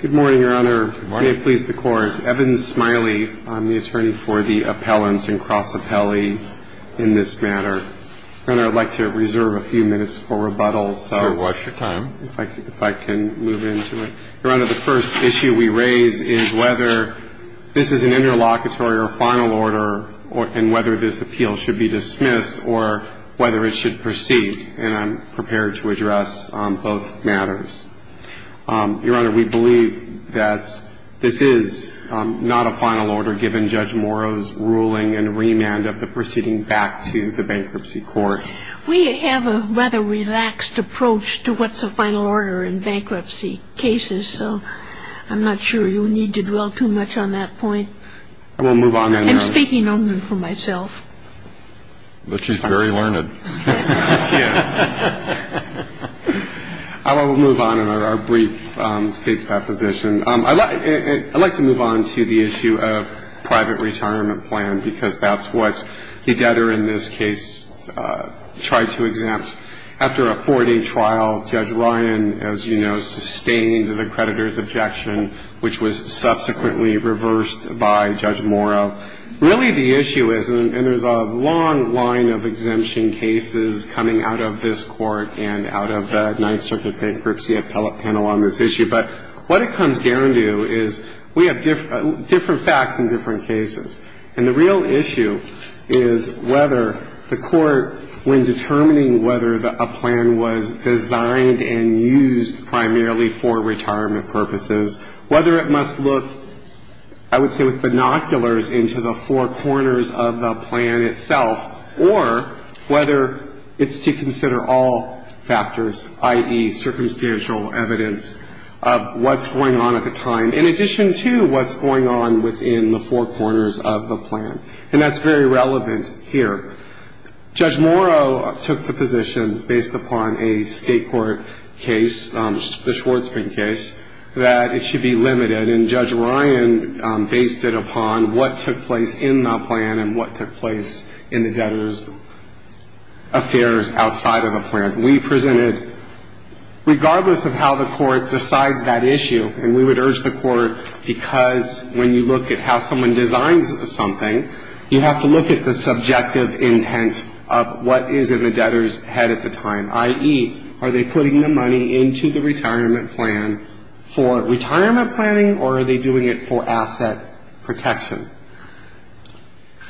Good morning, Your Honor. May it please the Court, Evan Smiley, I'm the attorney for the appellants and cross appellee in this matter. Your Honor, I'd like to reserve a few minutes for rebuttals. Sure, watch your time. If I can move into it. Your Honor, the first issue we raise is whether this is an interlocutory or final order and whether this appeal should be dismissed or whether it should proceed. And I'm prepared to address both matters. Your Honor, we believe that this is not a final order given Judge Morrow's ruling and remand of the proceeding back to the bankruptcy court. We have a rather relaxed approach to what's a final order in bankruptcy cases, so I'm not sure you need to dwell too much on that point. I will move on then, Your Honor. I'm speaking only for myself. But she's very learned. She is. I will move on in our brief case deposition. I'd like to move on to the issue of private retirement plan because that's what the debtor in this case tried to exempt. After a four-day trial, Judge Ryan, as you know, sustained the creditor's objection, which was subsequently reversed by Judge Morrow. Really, the issue is, and there's a long line of exemption cases coming out of this court and out of the Ninth Circuit Bankruptcy Appellate Panel on this issue. But what it comes down to is we have different facts in different cases. And the real issue is whether the court, when determining whether a plan was designed and used primarily for retirement purposes, whether it must look, I would say, with binoculars into the four corners of the plan itself, or whether it's to consider all factors, i.e., circumstantial evidence of what's going on at the time, in addition to what's going on within the four corners of the plan. And that's very relevant here. Judge Morrow took the position, based upon a state court case, the Schwartzman case, that it should be limited. And Judge Ryan based it upon what took place in the plan and what took place in the debtor's affairs outside of the plan. We presented, regardless of how the court decides that issue, and we would urge the court, because when you look at how someone designs something, you have to look at the subjective intent of what is in the debtor's head at the time, i.e., are they putting the money into the retirement plan for retirement planning, or are they doing it for asset protection?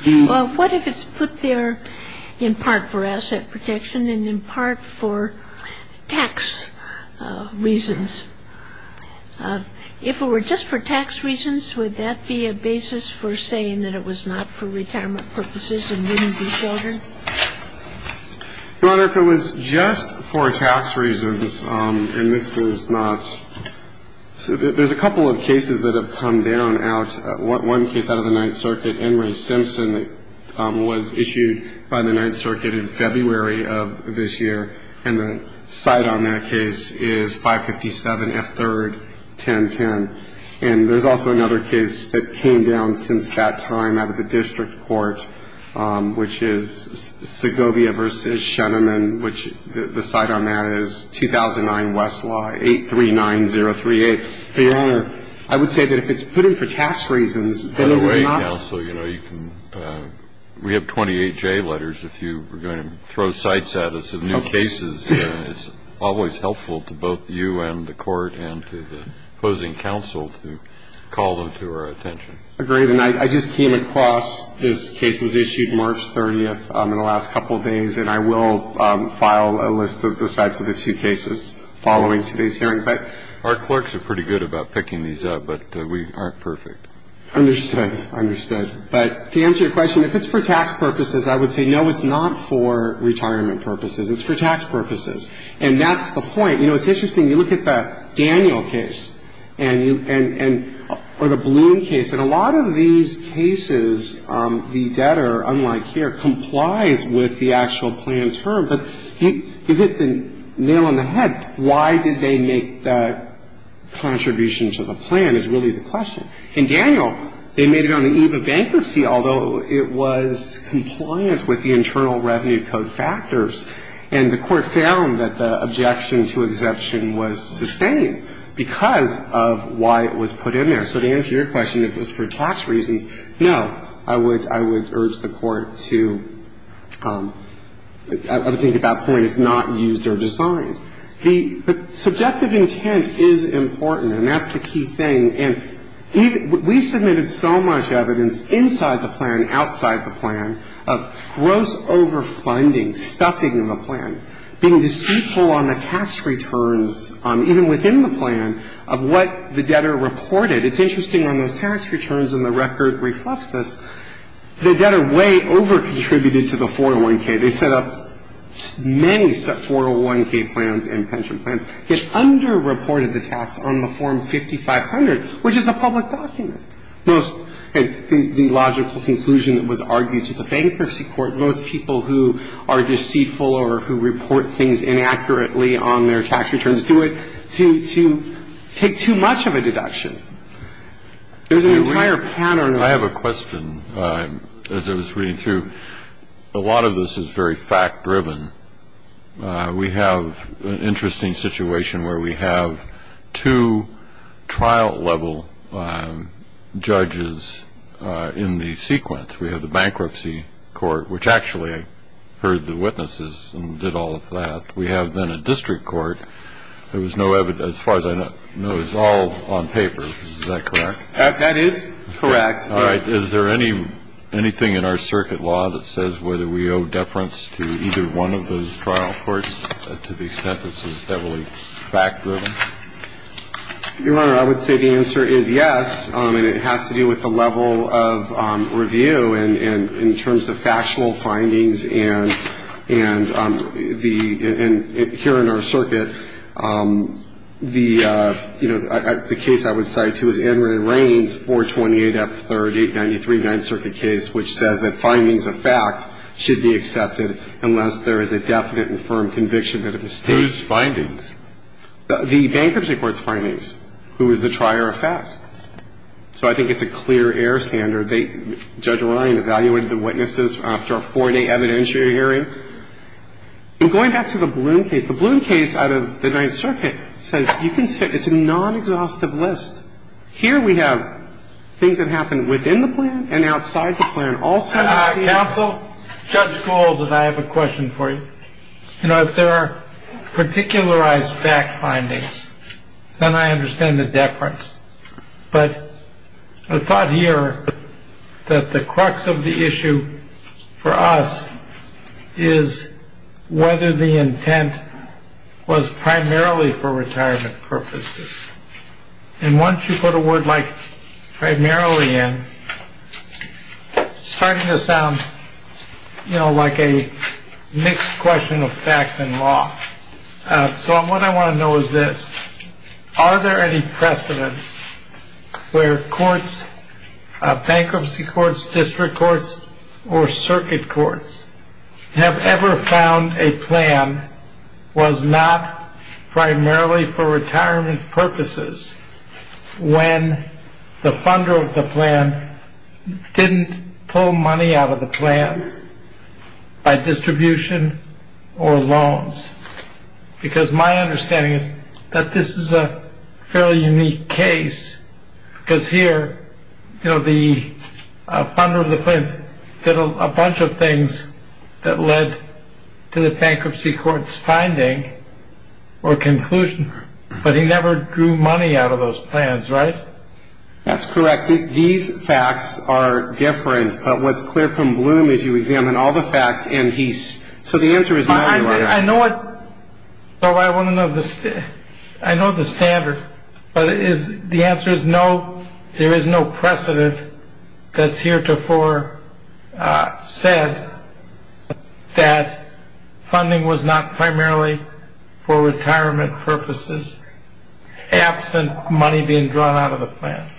Well, what if it's put there in part for asset protection and in part for tax reasons? If it were just for tax reasons, would that be a basis for saying that it was not for retirement purposes and wouldn't be filtered? Your Honor, if it was just for tax reasons, and this is not so, there's a couple of cases that have come down out. One case out of the Ninth Circuit, Henry Simpson, was issued by the Ninth Circuit in February of this year, and the cite on that case is 557F3-1010. And there's also another case that came down since that time out of the district court, which is Segovia v. Shenneman, which the cite on that is 2009 Westlaw 839038. But, Your Honor, I would say that if it's put in for tax reasons, then it is not ñ We have 28 J letters if you were going to throw cites at us of new cases. It's always helpful to both you and the Court and to the opposing counsel to call them to our attention. Agreed. And I just came across this case was issued March 30th in the last couple of days, and I will file a list of the cites of the two cases following today's hearing. But our clerks are pretty good about picking these up, but we aren't perfect. Understood. Understood. But to answer your question, if it's for tax purposes, I would say, no, it's not for retirement purposes. It's for tax purposes. And that's the point. You know, it's interesting. You look at the Daniel case and you ñ or the Bloom case. And a lot of these cases, the debtor, unlike here, complies with the actual plan term. But you hit the nail on the head. Why did they make that contribution to the plan is really the question. In Daniel, they made it on the eve of bankruptcy, although it was compliant with the Internal Revenue Code factors. And the Court found that the objection to exemption was sustained because of why it was put in there. So to answer your question, if it's for tax reasons, no. I would urge the Court to ñ I would think at that point it's not used or designed. The subjective intent is important, and that's the key thing. And we submitted so much evidence inside the plan, outside the plan, of gross overfunding, stuffing in the plan, being deceitful on the tax returns, even within the plan, of what the debtor reported. It's interesting, on those tax returns, and the record reflects this, the debtor way over-contributed to the 401K. They set up many 401K plans and pension plans. It underreported the tax on the Form 5500, which is a public document. Most ñ and the logical conclusion that was argued to the bankruptcy court, most people who are deceitful or who report things inaccurately on their tax returns do it to take too much of a deduction. There's an entire pattern of ñ I have a question. As I was reading through, a lot of this is very fact-driven. We have an interesting situation where we have two trial-level judges in the sequence. We have the bankruptcy court, which actually heard the witnesses and did all of that. We have then a district court. There was no evidence. As far as I know, it's all on paper. Is that correct? That is correct. All right. Is there anything in our circuit law that says whether we owe deference to either one of those trial courts to the extent that this is heavily fact-driven? Your Honor, I would say the answer is yes, and it has to do with the level of review in terms of factual findings. And the ñ and here in our circuit, the ñ you know, the case I would cite to is Edmund Rayne's 428F3893, Ninth Circuit case, which says that findings of fact should be accepted unless there is a definite and firm conviction that it was stated. Whose findings? The bankruptcy court's findings, who is the trier of fact. So I think it's a clear air standard. I don't know whether I'm going to believe the precedents. And there were not ñ you know, Judge Ryan evaluated the witnesses after a four-day evidentiary hearing. But going back to the Blum case, the Blum case out of the Ninth Circuit says you can ñ it's a non-exhaustive list. Here we have things that happened within the plan and outside the plan. Counsel, Judge Gould, I have a question for you. You know, if there are particularized fact findings, then I understand the deference. But the thought here that the crux of the issue for us is whether the intent was primarily for retirement purposes. And once you put a word like primarily in, it's starting to sound, you know, like a mixed question of fact and law. So what I want to know is this. Are there any precedents where courts, bankruptcy courts, district courts or circuit courts, have ever found a plan was not primarily for retirement purposes when the funder of the plan didn't pull money out of the plan by distribution or loans? Because my understanding is that this is a fairly unique case. Because here, you know, the funder of the plans did a bunch of things that led to the bankruptcy court's finding or conclusion. But he never drew money out of those plans, right? That's correct. These facts are different. But what's clear from Blum is you examine all the facts and he's ñ so the answer is no, Your Honor. I know what ñ so I want to know the ñ I know the standard. But is ñ the answer is no. There is no precedent that's heretofore said that funding was not primarily for retirement purposes, absent money being drawn out of the plans.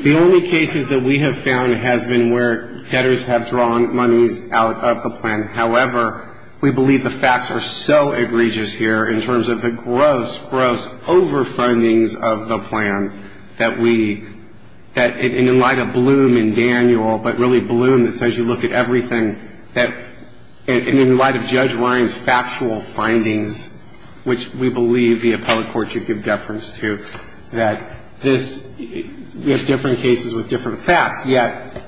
The only cases that we have found has been where debtors have drawn monies out of the plan. However, we believe the facts are so egregious here in terms of the gross, gross overfundings of the plan that we ñ that in light of Blum and Daniel, but really Blum that says you look at everything that ñ and in light of Judge Ryan's factual findings, which we believe the appellate court should give deference to, that this ñ we have different cases with different facts, yet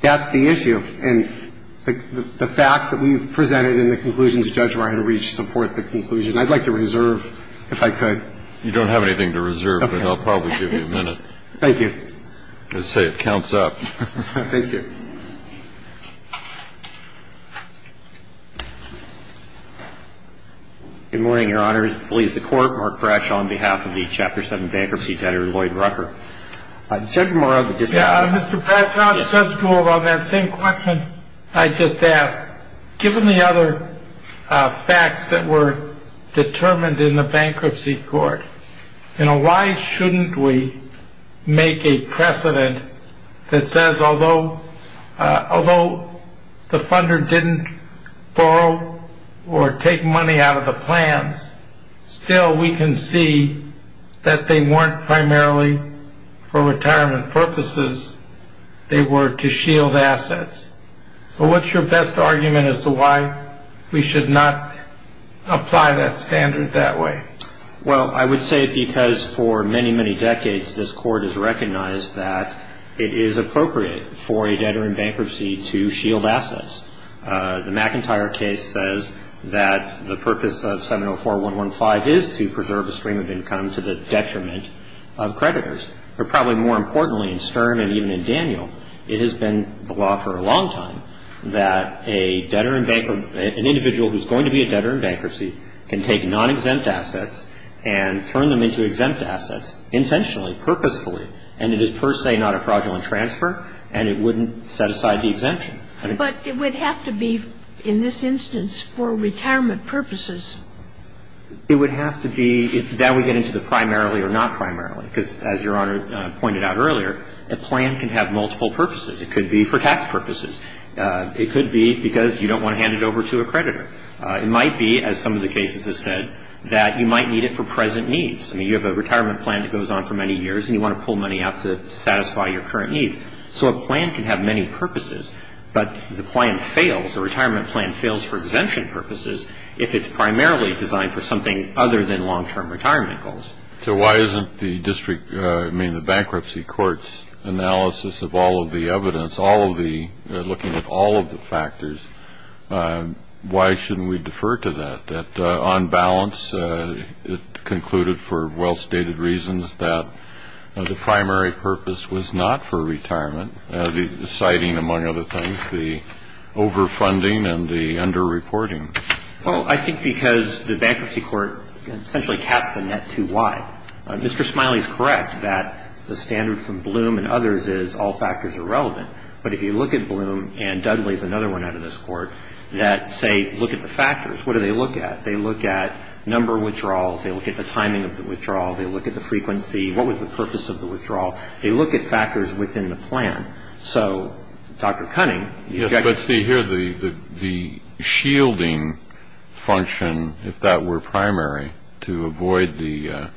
that's the issue. And the facts that we've presented in the conclusions that Judge Ryan reached support the conclusion. I'd like to reserve, if I could. You don't have anything to reserve, but I'll probably give you a minute. Thank you. As I say, it counts up. Thank you. Good morning, Your Honors. Police, the Court. Mark Bradshaw on behalf of the Chapter 7 Bankruptcy Debtor, Lloyd Rucker. Judge Morrow. Mr. Bradshaw, Judge Gould, on that same question I just asked, given the other facts that were determined in the bankruptcy court, why shouldn't we make a precedent that says although the funder didn't borrow or take money out of the plans, still we can see that they weren't primarily for retirement purposes. They were to shield assets. So what's your best argument as to why we should not apply that standard that way? Well, I would say because for many, many decades, this Court has recognized that it is appropriate for a debtor in bankruptcy to shield assets. The McIntyre case says that the purpose of 704.115 is to preserve a stream of income to the detriment of creditors. But probably more importantly, in Stern and even in Daniel, it has been the law for a long time that a debtor in bankruptcy, an individual who's going to be a debtor in bankruptcy can take non-exempt assets and turn them into exempt assets intentionally, purposefully. And it is per se not a fraudulent transfer, and it wouldn't set aside the exemption. But it would have to be, in this instance, for retirement purposes. It would have to be. That would get into the primarily or not primarily, because as Your Honor pointed out earlier, a plan can have multiple purposes. It could be for tax purposes. It could be because you don't want to hand it over to a creditor. It might be, as some of the cases have said, that you might need it for present needs. I mean, you have a retirement plan that goes on for many years, and you want to pull money out to satisfy your current needs. So a plan can have many purposes. But the plan fails, the retirement plan fails for exemption purposes, if it's primarily designed for something other than long-term retirement goals. So why isn't the bankruptcy court's analysis of all of the evidence, looking at all of the factors, why shouldn't we defer to that, that on balance it concluded for well-stated reasons that the primary purpose was not for retirement, citing, among other things, the over-funding and the under-reporting? Well, I think because the bankruptcy court essentially caps the net too wide. Mr. Smiley is correct that the standard from Bloom and others is all factors are relevant. But if you look at Bloom, and Dudley is another one out of this court, that, say, look at the factors, what do they look at? They look at number of withdrawals. They look at the timing of the withdrawal. They look at the frequency. What was the purpose of the withdrawal? They look at factors within the plan. So, Dr. Cunning, the objective of the plan is not to defer to that. Yes, but see, here the shielding function, if that were primary, to avoid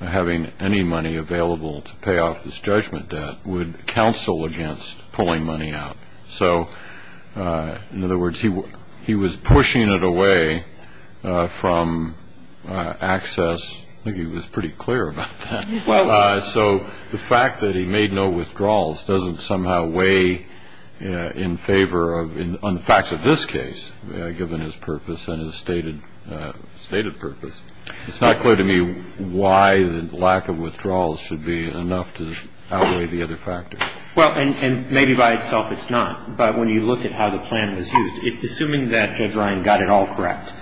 having any money available to pay off this judgment debt would counsel against pulling money out. So, in other words, he was pushing it away from access. I think he was pretty clear about that. So the fact that he made no withdrawals doesn't somehow weigh in favor on the facts of this case, given his purpose and his stated purpose. It's not clear to me why the lack of withdrawals should be enough to outweigh the other factors. Well, and maybe by itself it's not. But when you look at how the plan was used, assuming that Judge Ryan got it all correct,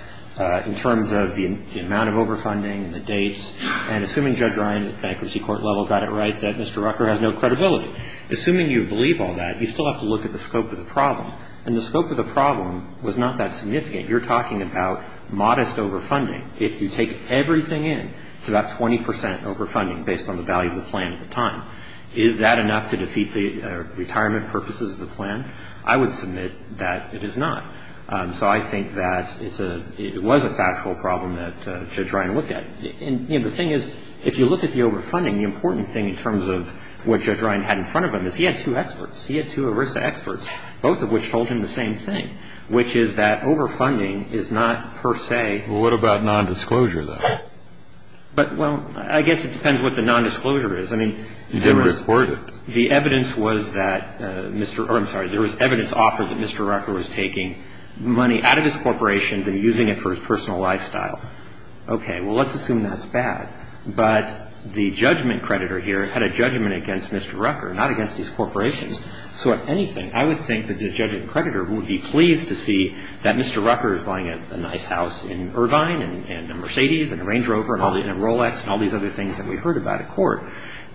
in terms of the amount of overfunding and the dates, and assuming Judge Ryan at bankruptcy court level got it right, that Mr. Rucker has no credibility. Assuming you believe all that, you still have to look at the scope of the problem. And the scope of the problem was not that significant. You're talking about modest overfunding. If you take everything in, it's about 20 percent overfunding based on the value of the plan at the time. Is that enough to defeat the retirement purposes of the plan? I would submit that it is not. So I think that it was a factual problem that Judge Ryan looked at. And the thing is, if you look at the overfunding, the important thing in terms of what Judge Ryan had in front of him is he had two experts. He had two ERISA experts, both of which told him the same thing, which is that overfunding is not per se. Well, what about nondisclosure, though? But, well, I guess it depends what the nondisclosure is. I mean, there was the evidence was that Mr. I'm sorry, there was evidence offered that Mr. Rucker was taking money out of his corporations and using it for his personal lifestyle. Okay, well, let's assume that's bad. But the judgment creditor here had a judgment against Mr. Rucker, not against these corporations. So if anything, I would think that the judgment creditor would be pleased to see that Mr. Rucker is buying a nice house in Irvine and a Mercedes and a Range Rover and a Rolex and all these other things that we heard about at court,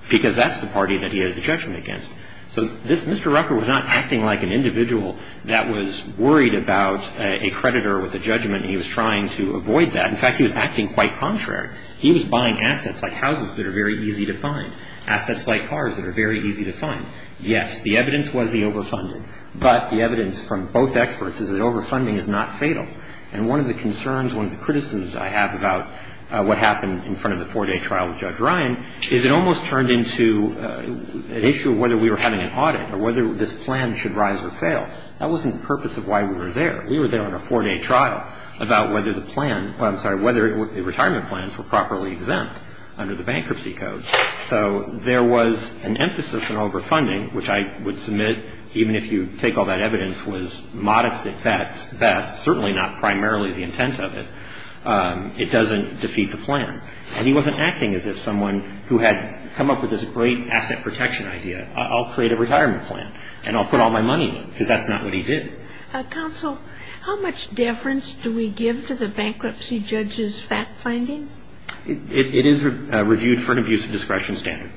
because that's the party that he had a judgment against. So this Mr. Rucker was not acting like an individual that was worried about a creditor with a judgment. He was trying to avoid that. In fact, he was acting quite contrary. He was buying assets like houses that are very easy to find, assets like cars that are very easy to find. Yes, the evidence was he overfunded. But the evidence from both experts is that overfunding is not fatal. And one of the concerns, one of the criticisms I have about what happened in front of the four-day trial with Judge Ryan is it almost turned into an issue of whether we were having an audit or whether this plan should rise or fail. That wasn't the purpose of why we were there. We were there on a four-day trial about whether the plan ‑‑ I'm sorry, whether the retirement plans were properly exempt under the bankruptcy code. So there was an emphasis on overfunding, which I would submit, even if you take all that evidence was modest at best, certainly not primarily the intent of it, it doesn't defeat the plan. And he wasn't acting as if someone who had come up with this great asset protection idea, I'll create a retirement plan and I'll put all my money in it, because that's not what he did. Counsel, how much deference do we give to the bankruptcy judge's fact finding? It is reviewed for an abuse of discretion standard.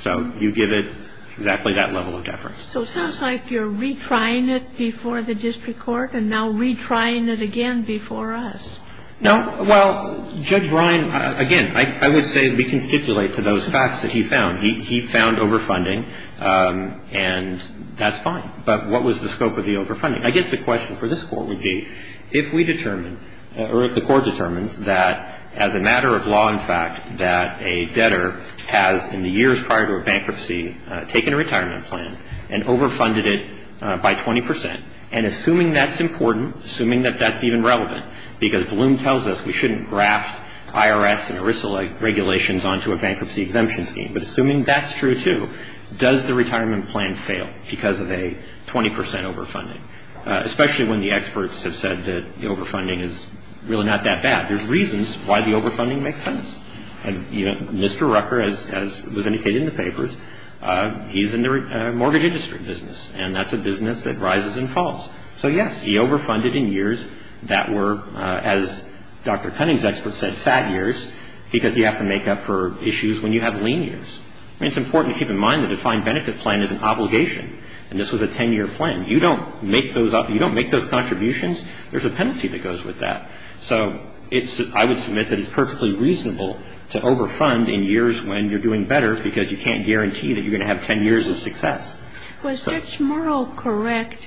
So you give it exactly that level of deference. So it sounds like you're retrying it before the district court and now retrying it again before us. No. Well, Judge Ryan, again, I would say we can stipulate to those facts that he found. He found overfunding, and that's fine. But what was the scope of the overfunding? I guess the question for this Court would be if we determine or if the Court determines that as a matter of law and fact that a debtor has in the years prior to a bankruptcy taken a retirement plan and overfunded it by 20 percent. And assuming that's important, assuming that that's even relevant, because Bloom tells us we shouldn't graft IRS and ERISA regulations onto a bankruptcy exemption scheme, but assuming that's true too, does the retirement plan fail because of a 20 percent overfunding? Especially when the experts have said that the overfunding is really not that bad. There's reasons why the overfunding makes sense. Mr. Rucker, as was indicated in the papers, he's in the mortgage industry business, and that's a business that rises and falls. So, yes, he overfunded in years that were, as Dr. Cunning's expert said, fat years, because you have to make up for issues when you have lean years. I mean, it's important to keep in mind the defined benefit plan is an obligation, and this was a 10-year plan. You don't make those up. You don't make those contributions. There's a penalty that goes with that. So I would submit that it's perfectly reasonable to overfund in years when you're doing better, because you can't guarantee that you're going to have 10 years of success. Was Ms. Morrow correct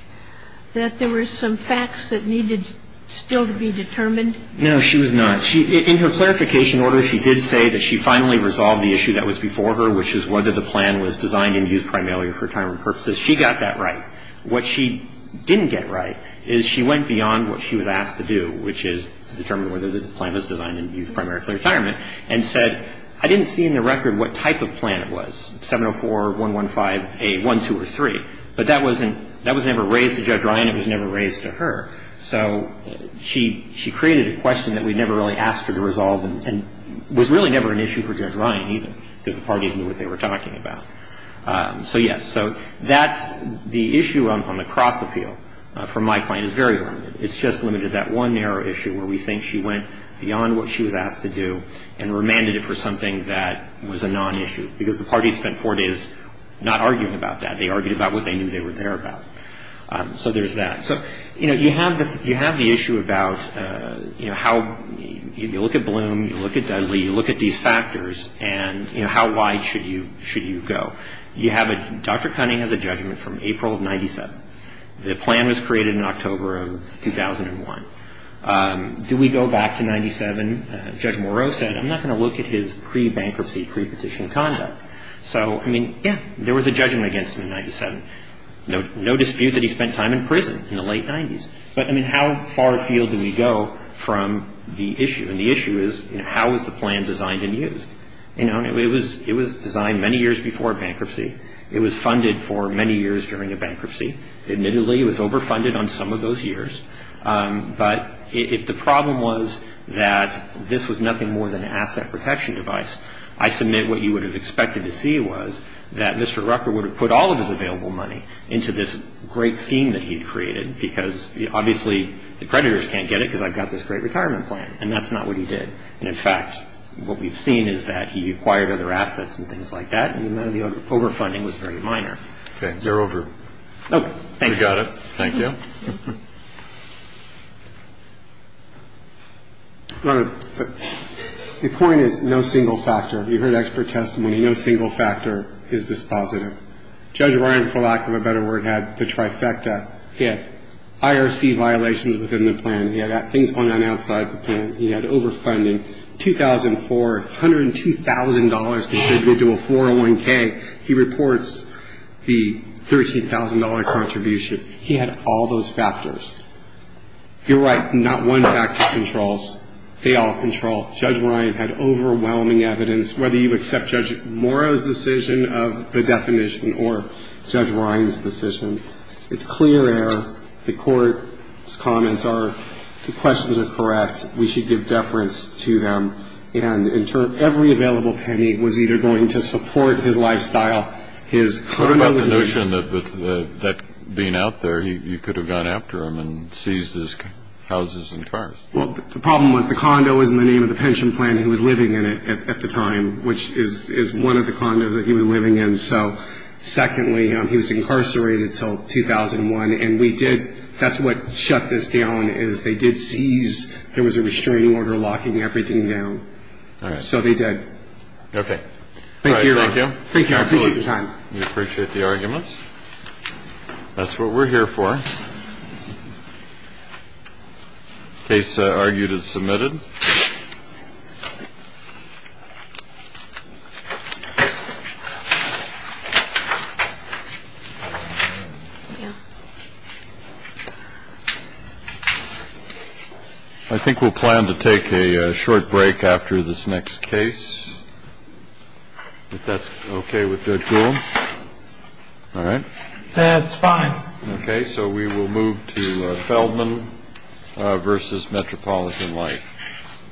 that there were some facts that needed still to be determined? No, she was not. In her clarification order, she did say that she finally resolved the issue that was before her, which is whether the plan was designed in youth primarily for retirement purposes. She got that right. What she didn't get right is she went beyond what she was asked to do, which is to determine whether the plan was designed in youth primarily for retirement, and said, I didn't see in the record what type of plan it was, 704-115-A-1, 2, or 3. But that was never raised to Judge Ryan. It was never raised to her. So she created a question that we never really asked her to resolve and was really never an issue for Judge Ryan either, because the parties knew what they were talking about. So, yes, so that's the issue on the cross-appeal from my client is very limited. It's just limited to that one narrow issue where we think she went beyond what she was asked to do and remanded it for something that was a non-issue, because the parties spent four days not arguing about that. They argued about what they knew they were there about. So there's that. So, you know, you have the issue about, you know, how you look at Bloom, you look at Dudley, you look at these factors, and, you know, how wide should you go. You have Dr. Cunningham's judgment from April of 97. The plan was created in October of 2001. Do we go back to 97? Judge Moreau said, I'm not going to look at his pre-bankruptcy, pre-petition conduct. So, I mean, yes, there was a judgment against him in 97. No dispute that he spent time in prison in the late 90s. But, I mean, how far afield do we go from the issue? And the issue is, you know, how was the plan designed and used? You know, it was designed many years before bankruptcy. It was funded for many years during a bankruptcy. Admittedly, it was overfunded on some of those years. But if the problem was that this was nothing more than an asset protection device, I submit what you would have expected to see was that Mr. Rucker would have put all of his available money into this great scheme that he'd created, because, obviously, the creditors can't get it, because I've got this great retirement plan. And that's not what he did. And, in fact, what we've seen is that he acquired other assets and things like that, and the amount of the overfunding was very minor. Okay. They're over. Oh, thank you. We got it. Thank you. Your Honor, the point is no single factor. You've heard expert testimony. No single factor is dispositive. Judge Ryan, for lack of a better word, had the trifecta. Yeah. He had IRC violations within the plan. He had things going on outside the plan. He had overfunding. $2,402 contributed to a 401K. He reports the $13,000 contribution. He had all those factors. You're right. Not one factor controls. They all control. Judge Ryan had overwhelming evidence. Whether you accept Judge Morrow's decision of the definition or Judge Ryan's decision, it's clear error. The Court's comments are the questions are correct. We should give deference to them. And, in turn, every available penny was either going to support his lifestyle, his condo. What about the notion that being out there, you could have gone after him and seized his houses and cars? Well, the problem was the condo was in the name of the pension plan he was living in at the time, which is one of the condos that he was living in. So, secondly, he was incarcerated until 2001, and we did – that's what shut this down, is they did seize – there was a restraining order locking everything down. All right. So they did. Okay. All right. Thank you. Thank you. I appreciate your time. We appreciate the arguments. That's what we're here for. The case argued is submitted. I think we'll plan to take a short break after this next case, if that's okay with Judge Gould. All right. That's fine. Okay. So we will move to Feldman v. Metropolitan Life.